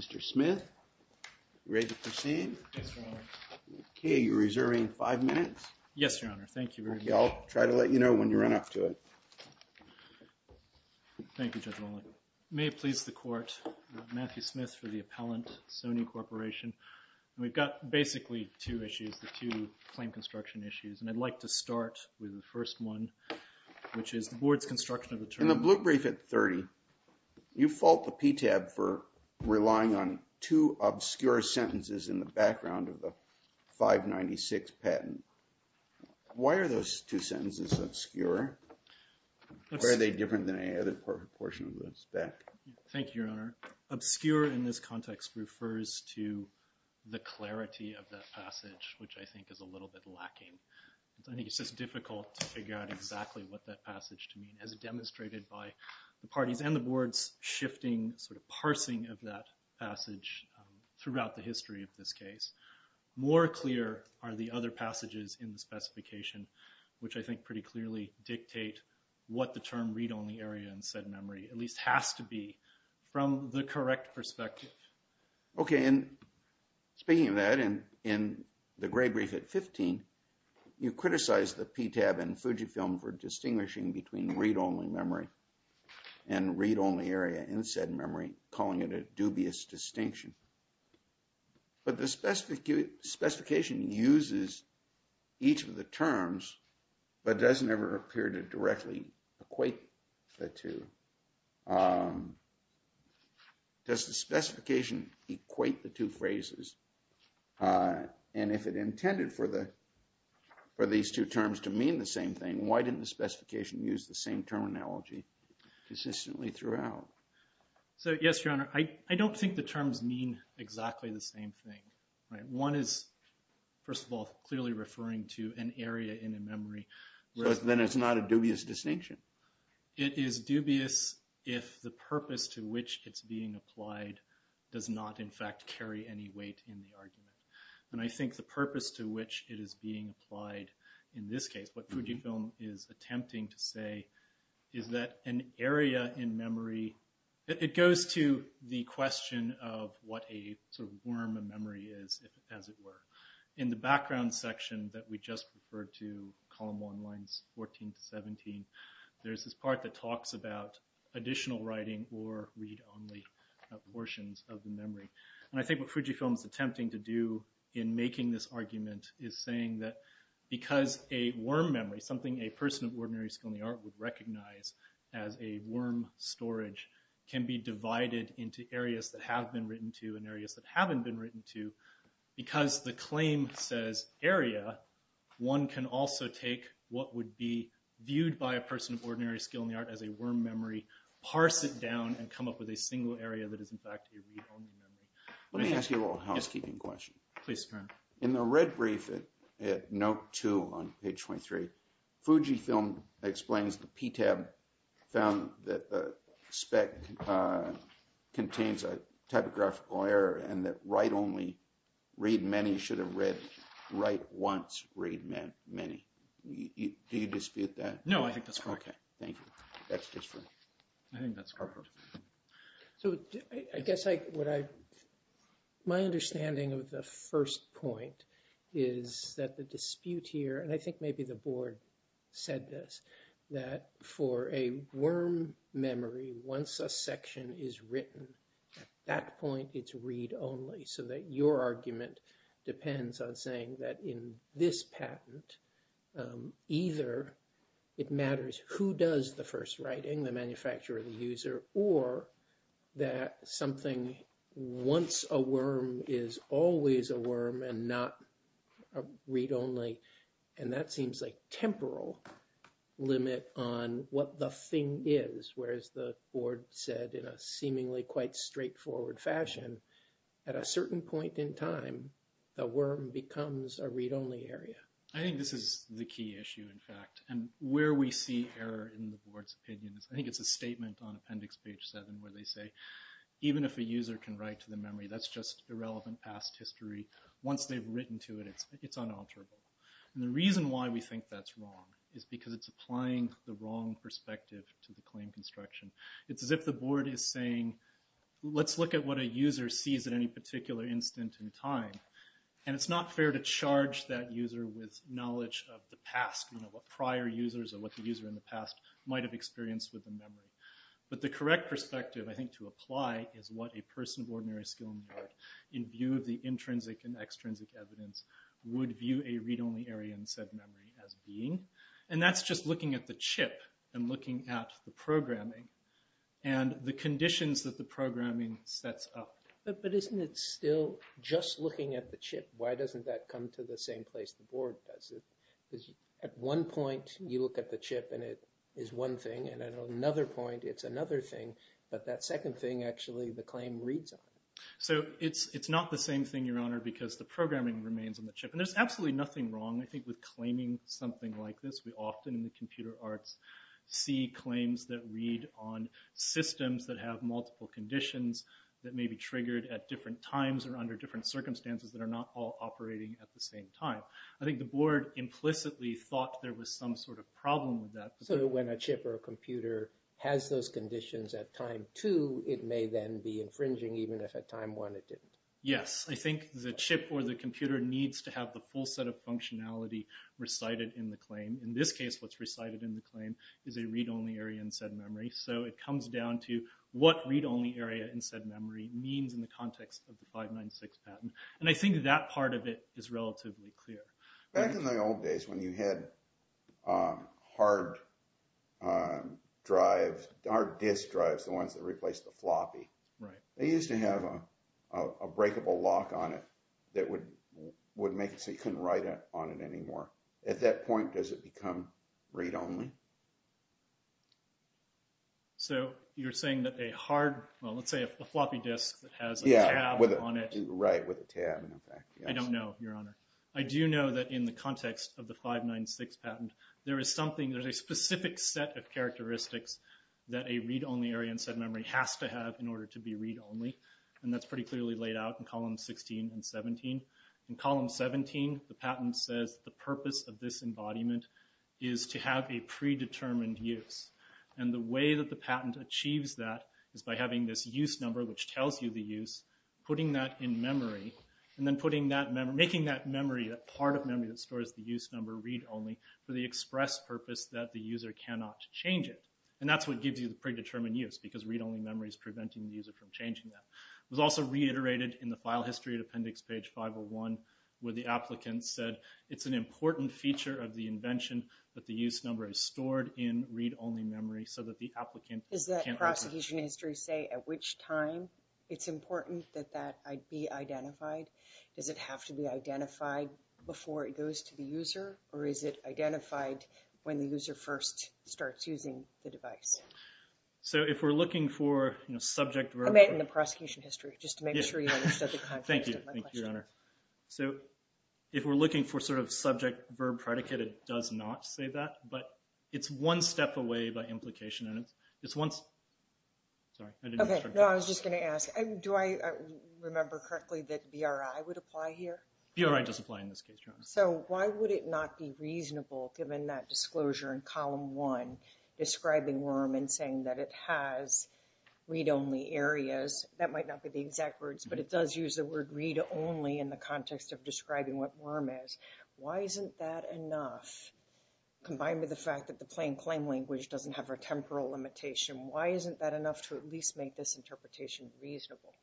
Mr. Smith, you ready to proceed? Yes, Your Honor. Okay, you're reserving five minutes? Yes, Your Honor. Thank you very much. Okay, I'll try to let you know when you run up to it. Thank you, Judge Rollin. May it please the Court, I'm Matthew Smith for the appellant, Sony Corporation. We've got basically two issues, the two claim construction issues, and I'd like to start with the first one, which is the board's construction of the term. In the blue brief at 30, you fault the PTAB for relying on two obscure sentences in the background of the 596 patent. Why are those two sentences obscure? Why are they different than any other portion of the spec? Thank you, Your Honor. Obscure in this context refers to the clarity of that passage, which I think is a little bit lacking. I think it's just difficult to figure out exactly what that passage to mean. As demonstrated by the parties and the board's shifting, sort of parsing of that passage throughout the history of this case. More clear are the other passages in the specification, which I think pretty clearly dictate what the term read-only area in said memory, at least has to be, from the correct perspective. Okay, and speaking of that, in the gray brief at 15, you criticize the PTAB and Fujifilm for distinguishing between read-only memory and read-only area in said memory, calling it a dubious distinction. But the specification uses each of the terms, but doesn't ever appear to directly equate the two. Does the specification equate the two phrases? And if it intended for these two terms to mean the same thing, why didn't the specification use the same terminology consistently throughout? So, yes, Your Honor, I don't think the terms mean exactly the same thing. One is, first of all, clearly referring to an area in a memory. Then it's not a dubious distinction. It is dubious if the purpose to which it's being applied does not, in fact, carry any weight in the argument. And I think the purpose to which it is being applied in this case, what Fujifilm is attempting to say is that an area in memory, it goes to the question of what a sort of worm of memory is, as it were. In the background section that we just referred to, column one, lines 14 to 17, there's this part that talks about additional writing or read-only portions of the memory. And I think what Fujifilm is attempting to do in making this argument is saying that because a worm memory, something a person of ordinary skill in the art would recognize as a worm storage, can be divided into areas that have been written to and areas that haven't been written to, because the claim says area, one can also take what would be viewed by a person of ordinary skill in the art as a worm memory, parse it down, and come up with a single area that is, in fact, a read-only memory. Let me ask you a little housekeeping question. Please, Karen. In the red brief at note two on page 23, Fujifilm explains the PTAB found that the spec contains a typographical error and that write-only, read many should have read, write once, read many. Do you dispute that? No, I think that's correct. Okay, thank you. That's just for me. I think that's correct. So I guess what I, my understanding of the first point is that the dispute here, and I think maybe the board said this, that for a worm memory, once a section is written, at that point it's read-only, so that your argument depends on saying that in this patent, either it matters who does the first writing, the manufacturer, the user, or that something once a worm is always a worm and not read-only, and that seems like temporal limit on what the thing is, whereas the board said in a seemingly quite straightforward fashion, at a certain point in time, the worm becomes a read-only area. I think this is the key issue, in fact, and where we see error in the board's opinion, I think it's a statement on appendix page seven where they say, even if a user can write to the memory, that's just irrelevant past history. Once they've written to it, it's unalterable. And the reason why we think that's wrong is because it's applying the wrong perspective to the claim construction. It's as if the board is saying, let's look at what a user sees at any particular instant in time, and it's not fair to charge that user with knowledge of the past, what prior users or what the user in the past might have experienced with the memory. But the correct perspective, I think, to apply is what a person of ordinary skill in the art, in view of the intrinsic and extrinsic evidence, would view a read-only area in said memory as being, and that's just looking at the chip and looking at the programming and the conditions that the programming sets up. But isn't it still just looking at the chip? Why doesn't that come to the same place the board does it? Because at one point you look at the chip and it is one thing, and at another point it's another thing, but that second thing actually the claim reads on. So it's not the same thing, Your Honor, And there's absolutely nothing wrong, I think, with claiming something like this. We often in the computer arts see claims that read on systems that have multiple conditions that may be triggered at different times or under different circumstances that are not all operating at the same time. I think the board implicitly thought there was some sort of problem with that. So when a chip or a computer has those conditions at time two, it may then be infringing even if at time one it didn't. Yes. I think the chip or the computer needs to have the full set of functionality recited in the claim. In this case, what's recited in the claim is a read-only area in said memory. So it comes down to what read-only area in said memory means in the context of the 596 patent. And I think that part of it is relatively clear. Back in the old days when you had hard drives, hard disk drives, the ones that replaced the floppy, they used to have a breakable lock on it that would make it so you couldn't write on it anymore. At that point, does it become read-only? So you're saying that a hard, well, let's say a floppy disk that has a tab on it. Right, with a tab. I don't know, Your Honor. I do know that in the context of the 596 patent, there is something, there's a specific set of characteristics that a read-only area in said memory has to have in order to be read-only. And that's pretty clearly laid out in column 16 and 17. In column 17, the patent says the purpose of this embodiment is to have a predetermined use. And the way that the patent achieves that is by having this use number which tells you the use, putting that in memory, and then putting that memory, making that memory, that part of memory that stores the use number read-only for the express purpose that the user cannot change it. And that's what gives you the predetermined use because read-only memory is preventing the user from changing that. It was also reiterated in the file history at appendix page 501 where the applicant said it's an important feature of the invention that the use number is stored in read-only memory so that the applicant can't change it. Does that prosecution history say at which time it's important that that be identified? Does it have to be identified before it goes to the user? Or is it identified when the user first starts using the device? So if we're looking for, you know, subject verb... I meant in the prosecution history, just to make sure you understood the context of my question. Thank you, Your Honor. So if we're looking for sort of subject verb predicate, it does not say that. But it's one step away by implication, and it's once... Sorry, I didn't... Okay, no, I was just going to ask. Do I remember correctly that BRI would apply here? BRI does apply in this case, Your Honor. So why would it not be reasonable, given that disclosure in column one, describing WIRM and saying that it has read-only areas? That might not be the exact words, but it does use the word read-only in the context of describing what WIRM is. Why isn't that enough, combined with the fact that the plain claim language doesn't have a temporal limitation? Why isn't that enough to at least make this interpretation reasonable?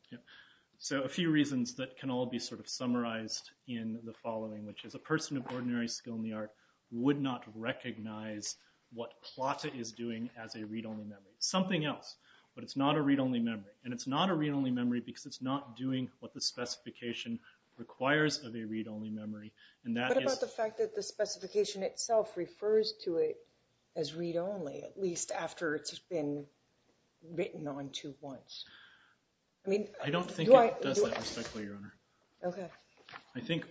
So a few reasons that can all be sort of summarized in the following, which is a person of ordinary skill in the art would not recognize what PLATA is doing as a read-only memory. It's something else, but it's not a read-only memory. And it's not a read-only memory because it's not doing what the specification requires of a read-only memory. What about the fact that the specification itself refers to it as read-only, at least after it's been written onto once? I don't think it does that respectfully, Your Honor. Okay. I think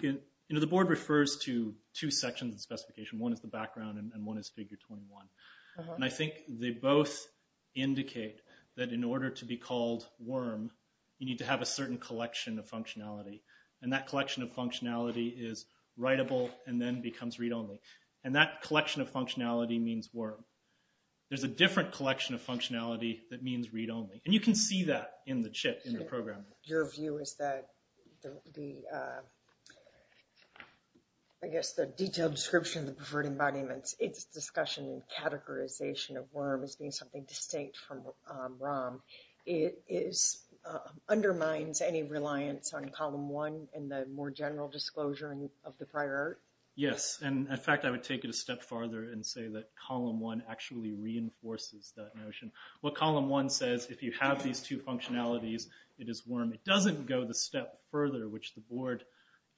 the board refers to two sections of the specification. One is the background, and one is Figure 21. And I think they both indicate that in order to be called WIRM, you need to have a certain collection of functionality. And that collection of functionality is writable and then becomes read-only. And that collection of functionality means WIRM. There's a different collection of functionality that means read-only. And you can see that in the CHIP, in the program. Your view is that the, I guess, the detailed description of the preferred embodiments, its discussion and categorization of WIRM as being something distinct from ROM, it undermines any reliance on Column 1 and the more general disclosure of the prior art? Yes. And, in fact, I would take it a step farther and say that Column 1 actually reinforces that notion. What Column 1 says, if you have these two functionalities, it is WIRM. It doesn't go the step further, which the board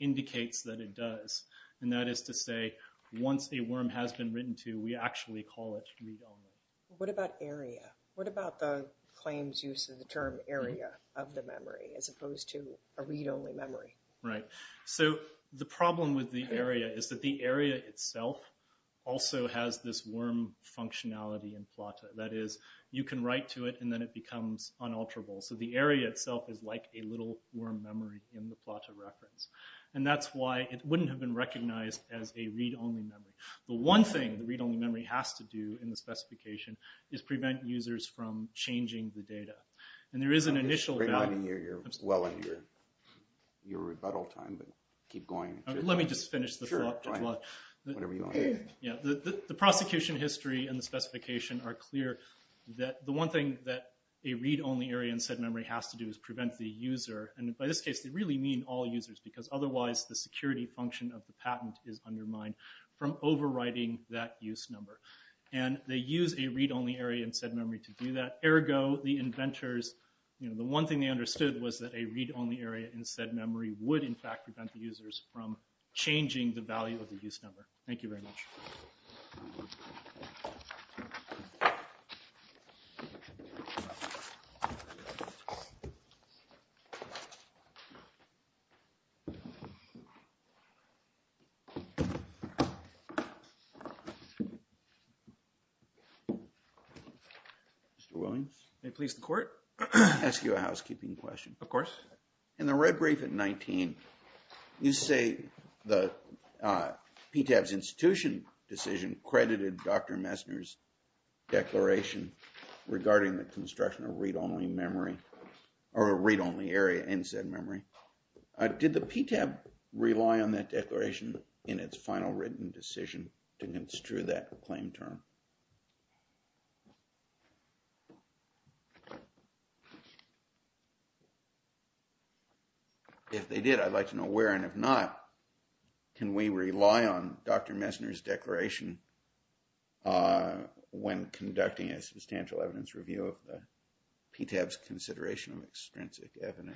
indicates that it does. And that is to say, once a WIRM has been written to, we actually call it read-only. What about area? What about the claims use of the term area of the memory as opposed to a read-only memory? Right. So the problem with the area is that the area itself also has this WIRM functionality in PLATA. That is, you can write to it and then it becomes unalterable. So the area itself is like a little WIRM memory in the PLATA reference. And that's why it wouldn't have been recognized as a read-only memory. The one thing the read-only memory has to do in the specification is prevent users from changing the data. And there is an initial value. You're well in your rebuttal time, but keep going. Let me just finish the thought. Sure, go ahead. Whatever you want. The prosecution history and the specification are clear that the one thing that a read-only area in said memory has to do is prevent the user, and by this case they really mean all users because otherwise the security function of the patent is undermined from overriding that use number. And they use a read-only area in said memory to do that. Ergo, the inventors, the one thing they understood was that a read-only area in said memory would in fact prevent the users from changing the value of the use number. Thank you very much. Mr. Williams? May it please the Court? Can I ask you a housekeeping question? Of course. In the red brief at 19, you say the PTAB's institution decision credited Dr. Messner's declaration regarding the construction of read-only memory or a read-only area in said memory. Did the PTAB rely on that declaration in its final written decision to construe that claim term? If they did, I'd like to know where, and if not, can we rely on Dr. Messner's declaration when conducting a substantial evidence review of the PTAB's consideration of extrinsic evidence?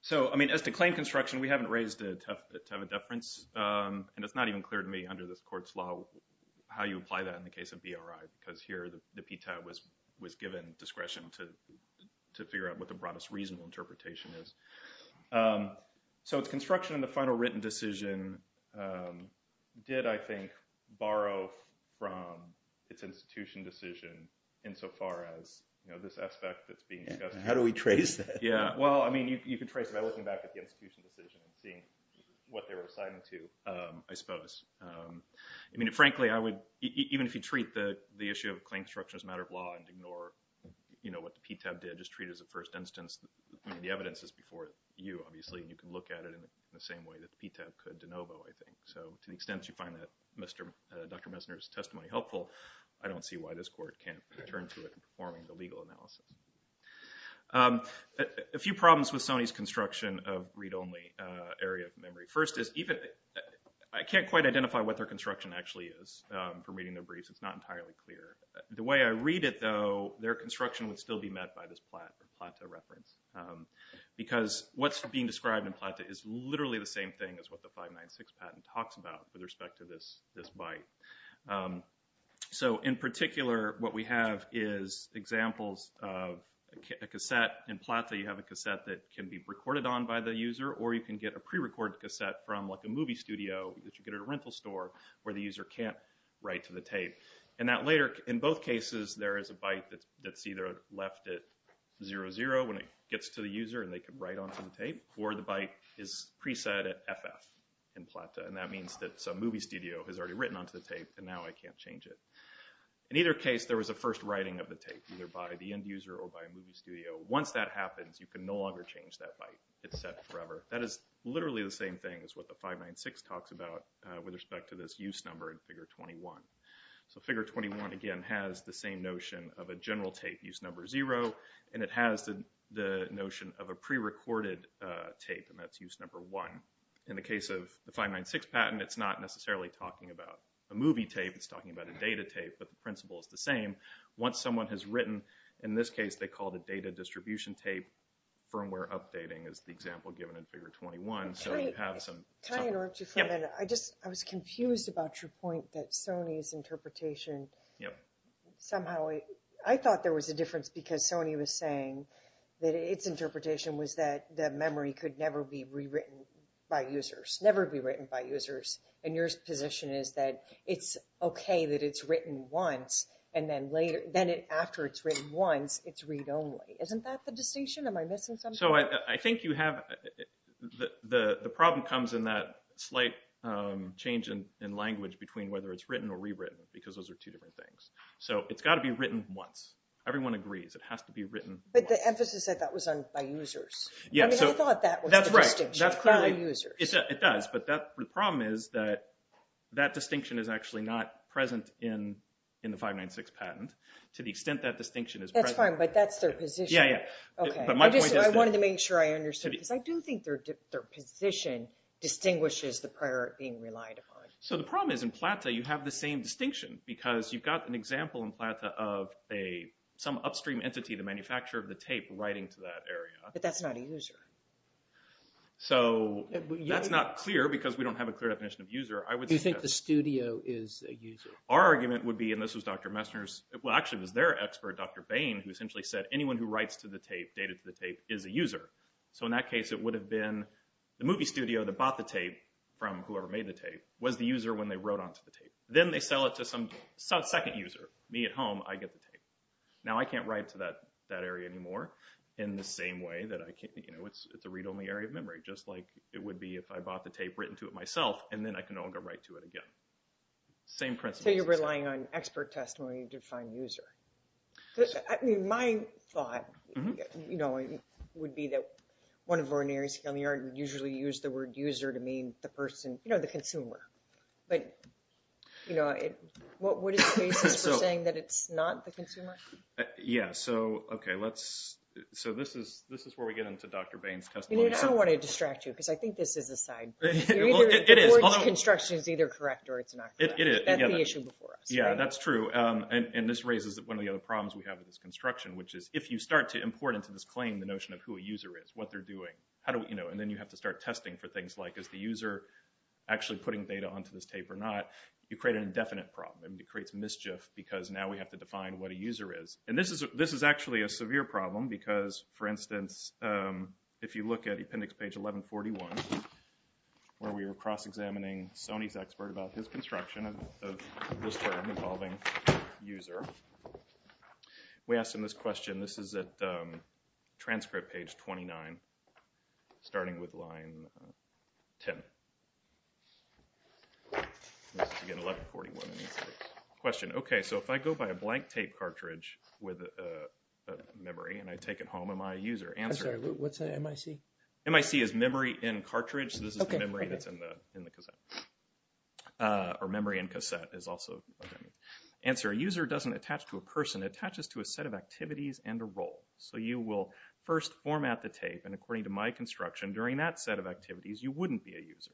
So, I mean, as to claim construction, we haven't raised a tough bit to have a deference, and it's not even clear to me under this Court's law how you apply that in the case of BRI because here the PTAB was given discretion to figure out what the broadest reasonable interpretation is. So its construction in the final written decision did, I think, borrow from its institution decision insofar as, you know, this aspect that's being discussed. How do we trace that? Yeah, well, I mean, you can trace it by looking back at the institution decision and seeing what they were assigning to, I suppose. I mean, frankly, I would, even if you treat the issue of claim construction as a matter of law and ignore, you know, what the PTAB did, just treat it as a first instance. I mean, the evidence is before you, obviously, and you can look at it in the same way that the PTAB could de novo, I think. So to the extent you find that Dr. Messner's testimony helpful, I don't see why this Court can't return to it in performing the legal analysis. A few problems with Sony's construction of read-only area of memory. First is even... I can't quite identify what their construction actually is from reading their briefs. It's not entirely clear. The way I read it, though, their construction would still be met by this PLATA reference because what's being described in PLATA is literally the same thing as what the 596 patent talks about with respect to this byte. So in particular, what we have is examples of a cassette. In PLATA, you have a cassette that can be recorded on by the user, or you can get a prerecorded cassette from, like, a movie studio that you get at a rental store where the user can't write to the tape. And that later, in both cases, there is a byte that's either left at 00 when it gets to the user and they can write onto the tape, or the byte is preset at FF in PLATA, and that means that some movie studio has already written onto the tape and now I can't change it. In either case, there was a first writing of the tape, either by the end user or by a movie studio. Once that happens, you can no longer change that byte. It's set forever. That is literally the same thing as what the 596 talks about with respect to this use number in Figure 21. So Figure 21, again, has the same notion of a general tape, use number 0, and it has the notion of a prerecorded tape, and that's use number 1. In the case of the 596 patent, it's not necessarily talking about a movie tape, it's talking about a data tape, but the principle is the same. Once someone has written, in this case, they called it data distribution tape, firmware updating is the example given in Figure 21. Can I interrupt you for a minute? I was confused about your point that Sony's interpretation, somehow, I thought there was a difference because Sony was saying that its interpretation was that the memory could never be rewritten by users, never be written by users, and your position is that it's okay that it's written once, and then after it's written once, it's read only. Isn't that the distinction? Am I missing something? I think the problem comes in that slight change in language between whether it's written or rewritten, because those are two different things. It's got to be written once. Everyone agrees it has to be written once. But the emphasis, I thought, was on by users. I thought that was the distinction, by users. It does, but the problem is that that distinction is actually not present in the 596 patent, to the extent that distinction is present. That's fine, but that's their position. I wanted to make sure I understood, because I do think their position distinguishes the prior being relied upon. So the problem is, in PLATA, you have the same distinction, because you've got an example in PLATA of some upstream entity, the manufacturer of the tape, writing to that area. But that's not a user. So that's not clear, because we don't have a clear definition of user. Do you think the studio is a user? Our argument would be, and this was Dr. Messner's, well, actually, it was their expert, Dr. Bain, who essentially said, anyone who writes to the tape, dated to the tape, is a user. So in that case, it would have been the movie studio that bought the tape from whoever made the tape was the user when they wrote onto the tape. Then they sell it to some second user, me at home, I get the tape. Now, I can't write to that area anymore, in the same way that I can't, you know, it's a read-only area of memory, just like it would be if I bought the tape, written to it myself, and then I can no longer write to it again. Same principle. So you're relying on expert testimony to define user. I mean, my thought, you know, would be that one of the ordinaries here on the yard would usually use the word user to mean the person, you know, the consumer. But, you know, what is the basis for saying that it's not the consumer? Yeah, so, okay, let's, so this is where we get into Dr. Bain's testimony. You know, I don't want to distract you, because I think this is a side. It is. The board's construction is either correct or it's not. It is. That's the issue before us. Yeah, that's true. So, and this raises one of the other problems we have with this construction, which is if you start to import into this claim the notion of who a user is, what they're doing, how do we, you know, and then you have to start testing for things like, is the user actually putting data onto this tape or not, you create an indefinite problem. It creates mischief, because now we have to define what a user is. And this is actually a severe problem, because, for instance, if you look at appendix page 1141, where we were cross-examining Sony's expert about his user, we asked him this question. This is at transcript page 29, starting with line 10. This is, again, 1141. Question. Okay, so if I go by a blank tape cartridge with a memory and I take it home, am I a user? Answer. I'm sorry. What's MIC? MIC is memory in cartridge. So this is the memory that's in the cassette. Or memory in cassette is also. Answer. A user doesn't attach to a person. It attaches to a set of activities and a role. So you will first format the tape, and according to my construction, during that set of activities, you wouldn't be a user.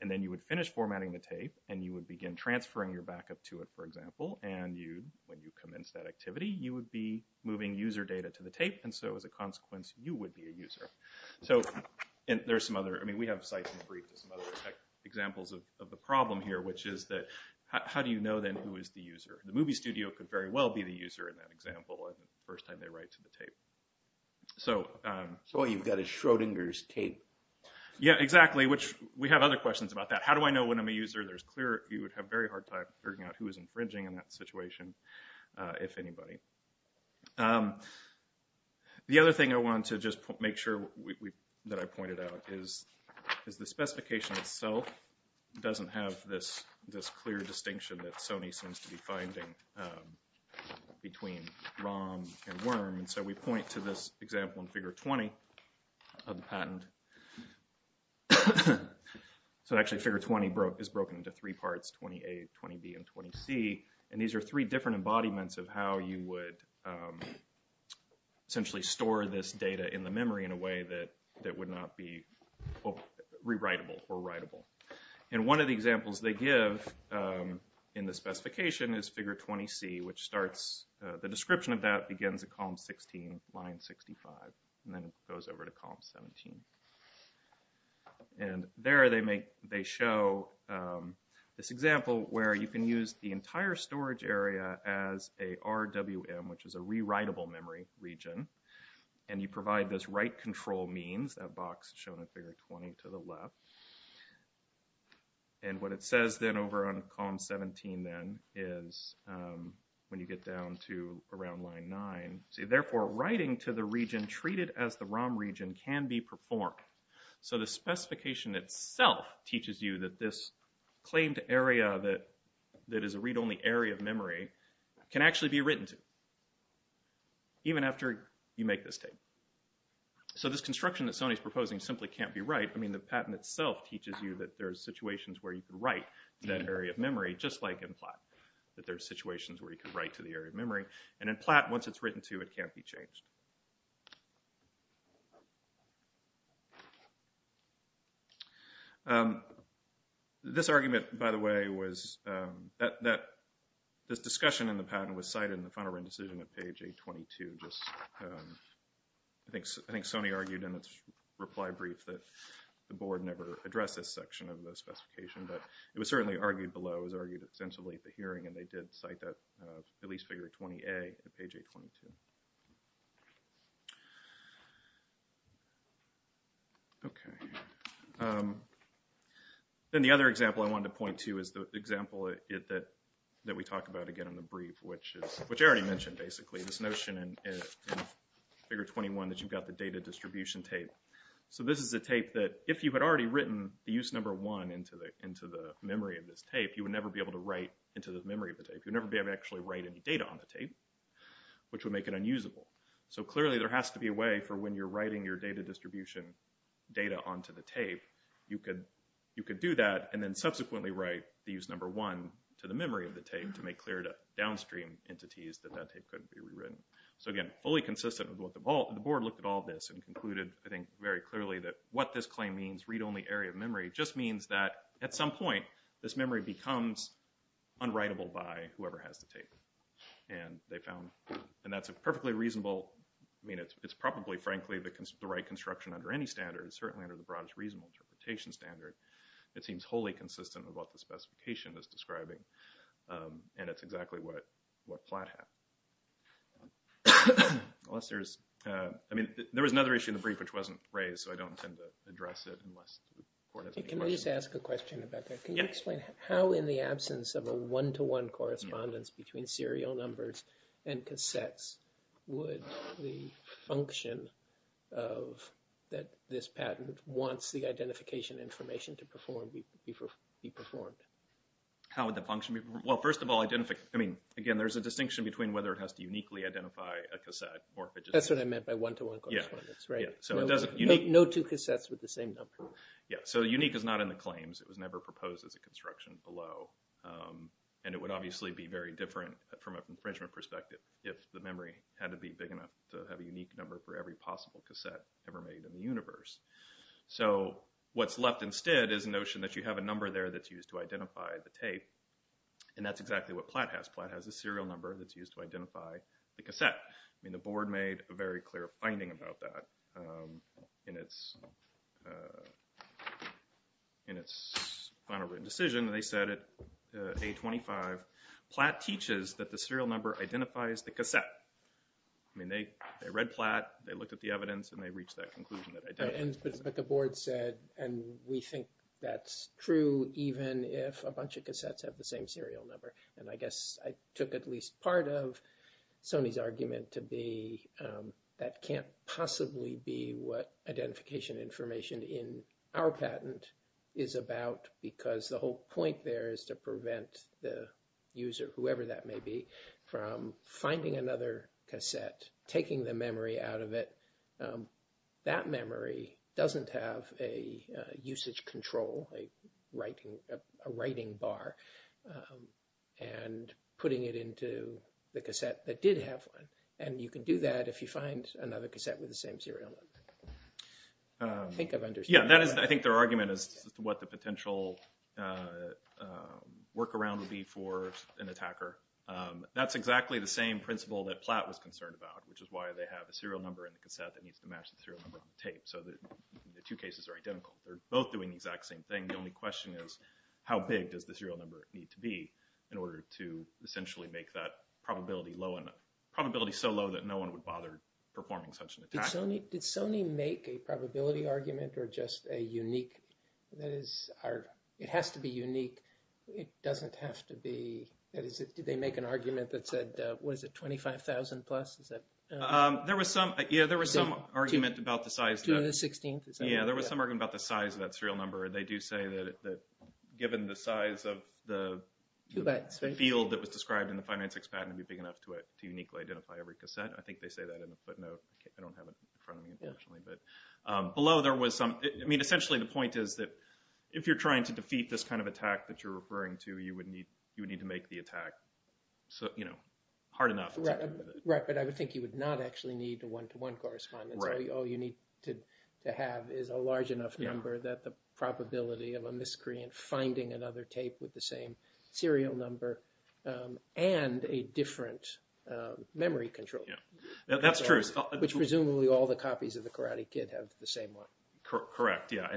And then you would finish formatting the tape, and you would begin transferring your backup to it, for example, and you, when you commence that activity, you would be moving user data to the tape, and so as a consequence, you would be a user. So, and there's some other, I mean, we have sites and briefs and some other examples of the problem here, which is that, how do you know then who is the user? The movie studio could very well be the user in that example the first time they write to the tape. So. So all you've got is Schrodinger's tape. Yeah, exactly, which we have other questions about that. How do I know when I'm a user? There's clear, you would have very hard time figuring out who is infringing in that situation, if anybody. The other thing I want to just make sure that I pointed out is the specification itself doesn't have this clear distinction that Sony seems to be finding between ROM and WORM, and so we point to this example in figure 20 of the patent. So actually figure 20 is broken into three parts, 20A, 20B, and 20C, and these are three different embodiments of how you would essentially store this data in the memory in a way that would not be rewritable or writable. And one of the examples they give in the specification is figure 20C, which starts, the description of that begins at column 16, line 65, and then it goes over to column 17. And there they show this example where you can use the entire storage area as a RWM, which is a rewritable memory region, and you provide this write control means, that box shown in figure 20 to the left, and what it says then over on column 17 then is, when you get down to around line 9, therefore writing to the region treated as the ROM region can be performed. So the specification itself teaches you that this claimed area that is a read-only area of memory can actually be written to. Even after you make this statement. So this construction that Sony is proposing simply can't be right, I mean the patent itself teaches you that there are situations where you can write to that area of memory, just like in PLAT, that there are situations where you can write to the area of memory, and in PLAT, once it's written to, it can't be changed. This argument, by the way, was, this discussion in the patent was cited in the final written decision at page 822. I think Sony argued in its reply brief that the board never addressed this section of the specification, but it was certainly argued below, it was argued extensively at the hearing, and they did cite that, at least figure 20A at page 822. Then the other example I wanted to point to is the example that we talk about again in the brief, which I already mentioned basically, this notion in figure 21 that you've got the data distribution tape. So this is a tape that, if you had already written the use number 1 into the memory of this tape, you would never be able to write into the memory of the tape, you would never be able to actually write any data on the tape, which would make it unusable. So clearly there has to be a way for when you're writing your data distribution data onto the tape, you could do that and then subsequently write the use number 1 to the memory of the tape to make clear to downstream entities that that tape couldn't be rewritten. So again, fully consistent with what the board looked at all this, and concluded I think very clearly that what this claim means, read-only area of memory, just means that at some point this memory becomes unwritable by whoever has the tape. And they found, and that's a perfectly reasonable, I mean it's probably frankly the right construction under any standard, certainly under the broadest reasonable interpretation standard, it seems wholly consistent with what the specification is describing, and it's exactly what Platt had. Unless there's, I mean there was another issue in the brief which wasn't raised, so I don't intend to address it unless the board has any questions. Can I just ask a question about that? Yes. Can you explain how in the absence of a one-to-one correspondence between serial numbers and cassettes would the function of this patent once the identification information to perform be performed? How would the function be? Well first of all, I mean again there's a distinction between whether it has to uniquely identify a cassette. That's what I meant by one-to-one correspondence, right? No two cassettes with the same number. Yeah, so unique is not in the claims. It was never proposed as a construction below, and it would obviously be very different from an infringement perspective if the memory had to be big enough to have a unique number for every possible cassette ever made in the universe. So what's left instead is the notion that you have a number there that's used to identify the tape, and that's exactly what Platt has. Platt has a serial number that's used to identify the cassette. I mean the board made a very clear finding about that in its final written decision, and they said at A25, Platt teaches that the serial number identifies the cassette. I mean they read Platt, they looked at the evidence, and they reached that conclusion. But the board said, and we think that's true even if a bunch of cassettes have the same serial number. And I guess I took at least part of Sony's argument to be that can't possibly be what identification information in our patent is about because the whole point there is to prevent the user, whoever that may be, from finding another cassette, taking the memory out of it. That memory doesn't have a usage control, a writing bar, and putting it into the cassette that did have one. And you can do that if you find another cassette with the same serial number. I think I've understood. Yeah, I think their argument is what the potential workaround would be for an attacker. That's exactly the same principle that Platt was concerned about, which is why they have a serial number in the cassette that needs to match the serial number on the tape. So the two cases are identical. They're both doing the exact same thing. The only question is how big does the serial number need to be in order to essentially make that probability low enough. Probability so low that no one would bother performing such an attack. Did Sony make a probability argument or just a unique? That is, it has to be unique. It doesn't have to be. Did they make an argument that said, what is it, 25,000 plus? There was some argument about the size. Yeah, there was some argument about the size of that serial number. They do say that given the size of the field that was described in the 596 patent would be big enough to uniquely identify every cassette. I think they say that in a footnote. I don't have it in front of me, unfortunately. Below there was some, I mean, essentially the point is that if you're trying to defeat this kind of attack that you're referring to, you would need to make the attack hard enough. Right, but I would think you would not actually need a one-to-one correspondence. All you need to have is a large enough number that the probability of a miscreant finding another tape with the same serial number and a different memory control. That's true. Which presumably all the copies of the Karate Kid have the same one. Correct, yeah,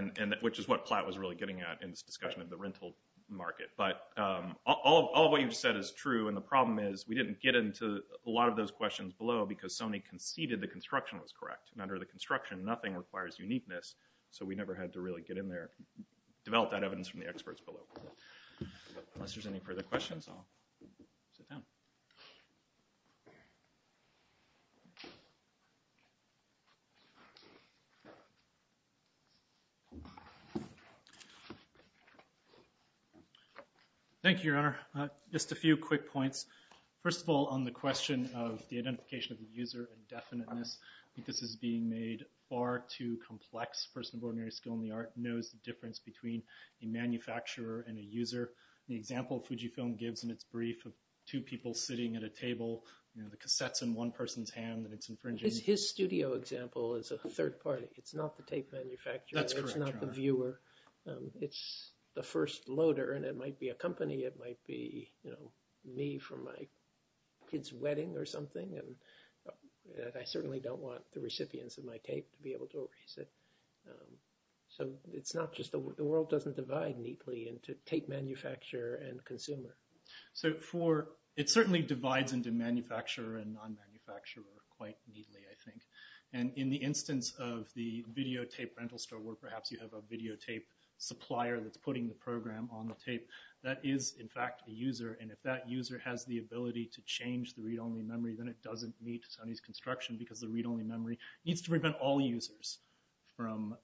which is what Platt was really getting at in this discussion of the rental market. But all of what you've said is true, and the problem is we didn't get into a lot of those questions below because Sony conceded the construction was correct. Under the construction, nothing requires uniqueness, so we never had to really get in there, develop that evidence from the experts below. Unless there's any further questions, I'll sit down. Thank you, Your Honor. Just a few quick points. First of all, on the question of the identification of the user and definiteness, I think this is being made far too complex. A person of ordinary skill in the art knows the difference between a manufacturer and a user. The example Fujifilm gives in its brief of two people sitting at a table, the cassette's in one person's hand and it's infringing. His studio example is a third party. It's not the tape manufacturer. That's correct, Your Honor. It's not the viewer. It's the first loader, and it might be a company. It might be me from my kid's wedding or something, and I certainly don't want the recipients of my tape to be able to erase it. So it's not just the world. The world doesn't divide neatly into tape manufacturer and consumer. So it certainly divides into manufacturer and non-manufacturer quite neatly, I think. And in the instance of the videotape rental store where perhaps you have a videotape supplier that's putting the program on the tape, that is, in fact, a user, and if that user has the ability to change the read-only memory, then it doesn't meet Sunny's construction because the read-only memory needs to prevent all users from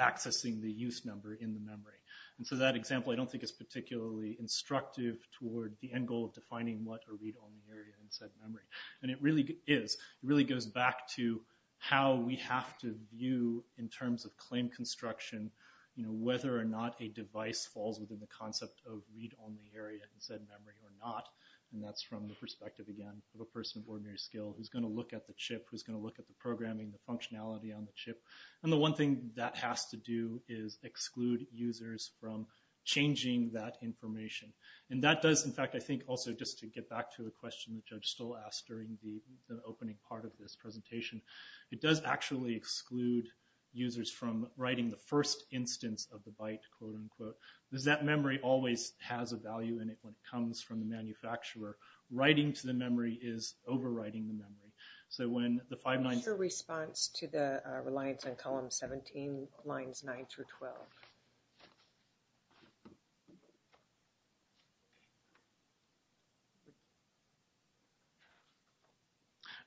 accessing the use number in the memory. And so that example I don't think is particularly instructive toward the end goal of defining what a read-only area in said memory. And it really is. It really goes back to how we have to view in terms of claim construction whether or not a device falls within the concept of read-only area in said memory or not, and that's from the perspective, again, of a person of ordinary skill who's going to look at the chip, who's going to look at the programming, the functionality on the chip. And the one thing that has to do is exclude users from changing that information. And that does, in fact, I think also, just to get back to a question the judge still asked during the opening part of this presentation, it does actually exclude users from writing the first instance of the byte, quote-unquote, because that memory always has a value in it when it comes from the manufacturer. Writing to the memory is overwriting the memory. What's your response to the reliance on column 17, lines 9 through 12?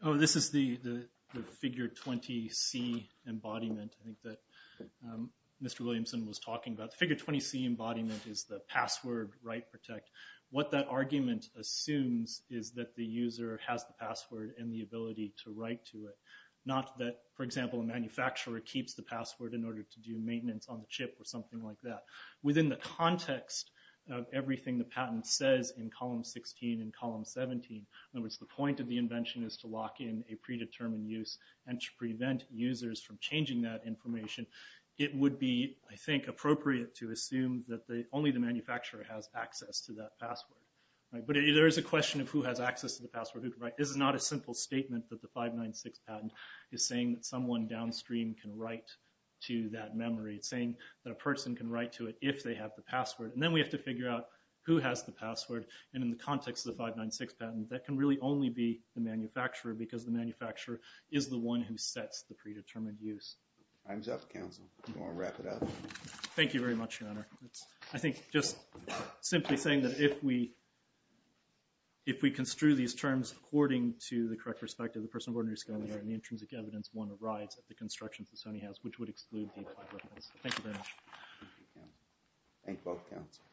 Oh, this is the figure 20C embodiment I think that Mr. Williamson was talking about. The figure 20C embodiment is the password write protect. What that argument assumes is that the user has the password and the ability to write to it. Not that, for example, a manufacturer keeps the password in order to do maintenance on the chip or something like that. Within the context of everything the patent says in column 16 and column 17, in other words, the point of the invention is to lock in a predetermined use and to prevent users from changing that information, it would be, I think, appropriate to assume that only the manufacturer has access to that password. But there is a question of who has access to the password. This is not a simple statement that the 596 patent is saying that someone downstream can write to that memory. It's saying that a person can write to it if they have the password. And then we have to figure out who has the password. And in the context of the 596 patent, that can really only be the manufacturer because the manufacturer is the one who sets the predetermined use. I'm Jeff Council. I'm going to wrap it up. Thank you very much, Your Honor. I think just simply saying that if we construe these terms according to the correct perspective of the Personal Board of New Scalability and the intrinsic evidence, one arrives at the constructions that Sony has, which would exclude the implied reference. Thank you very much. Thank you, counsel.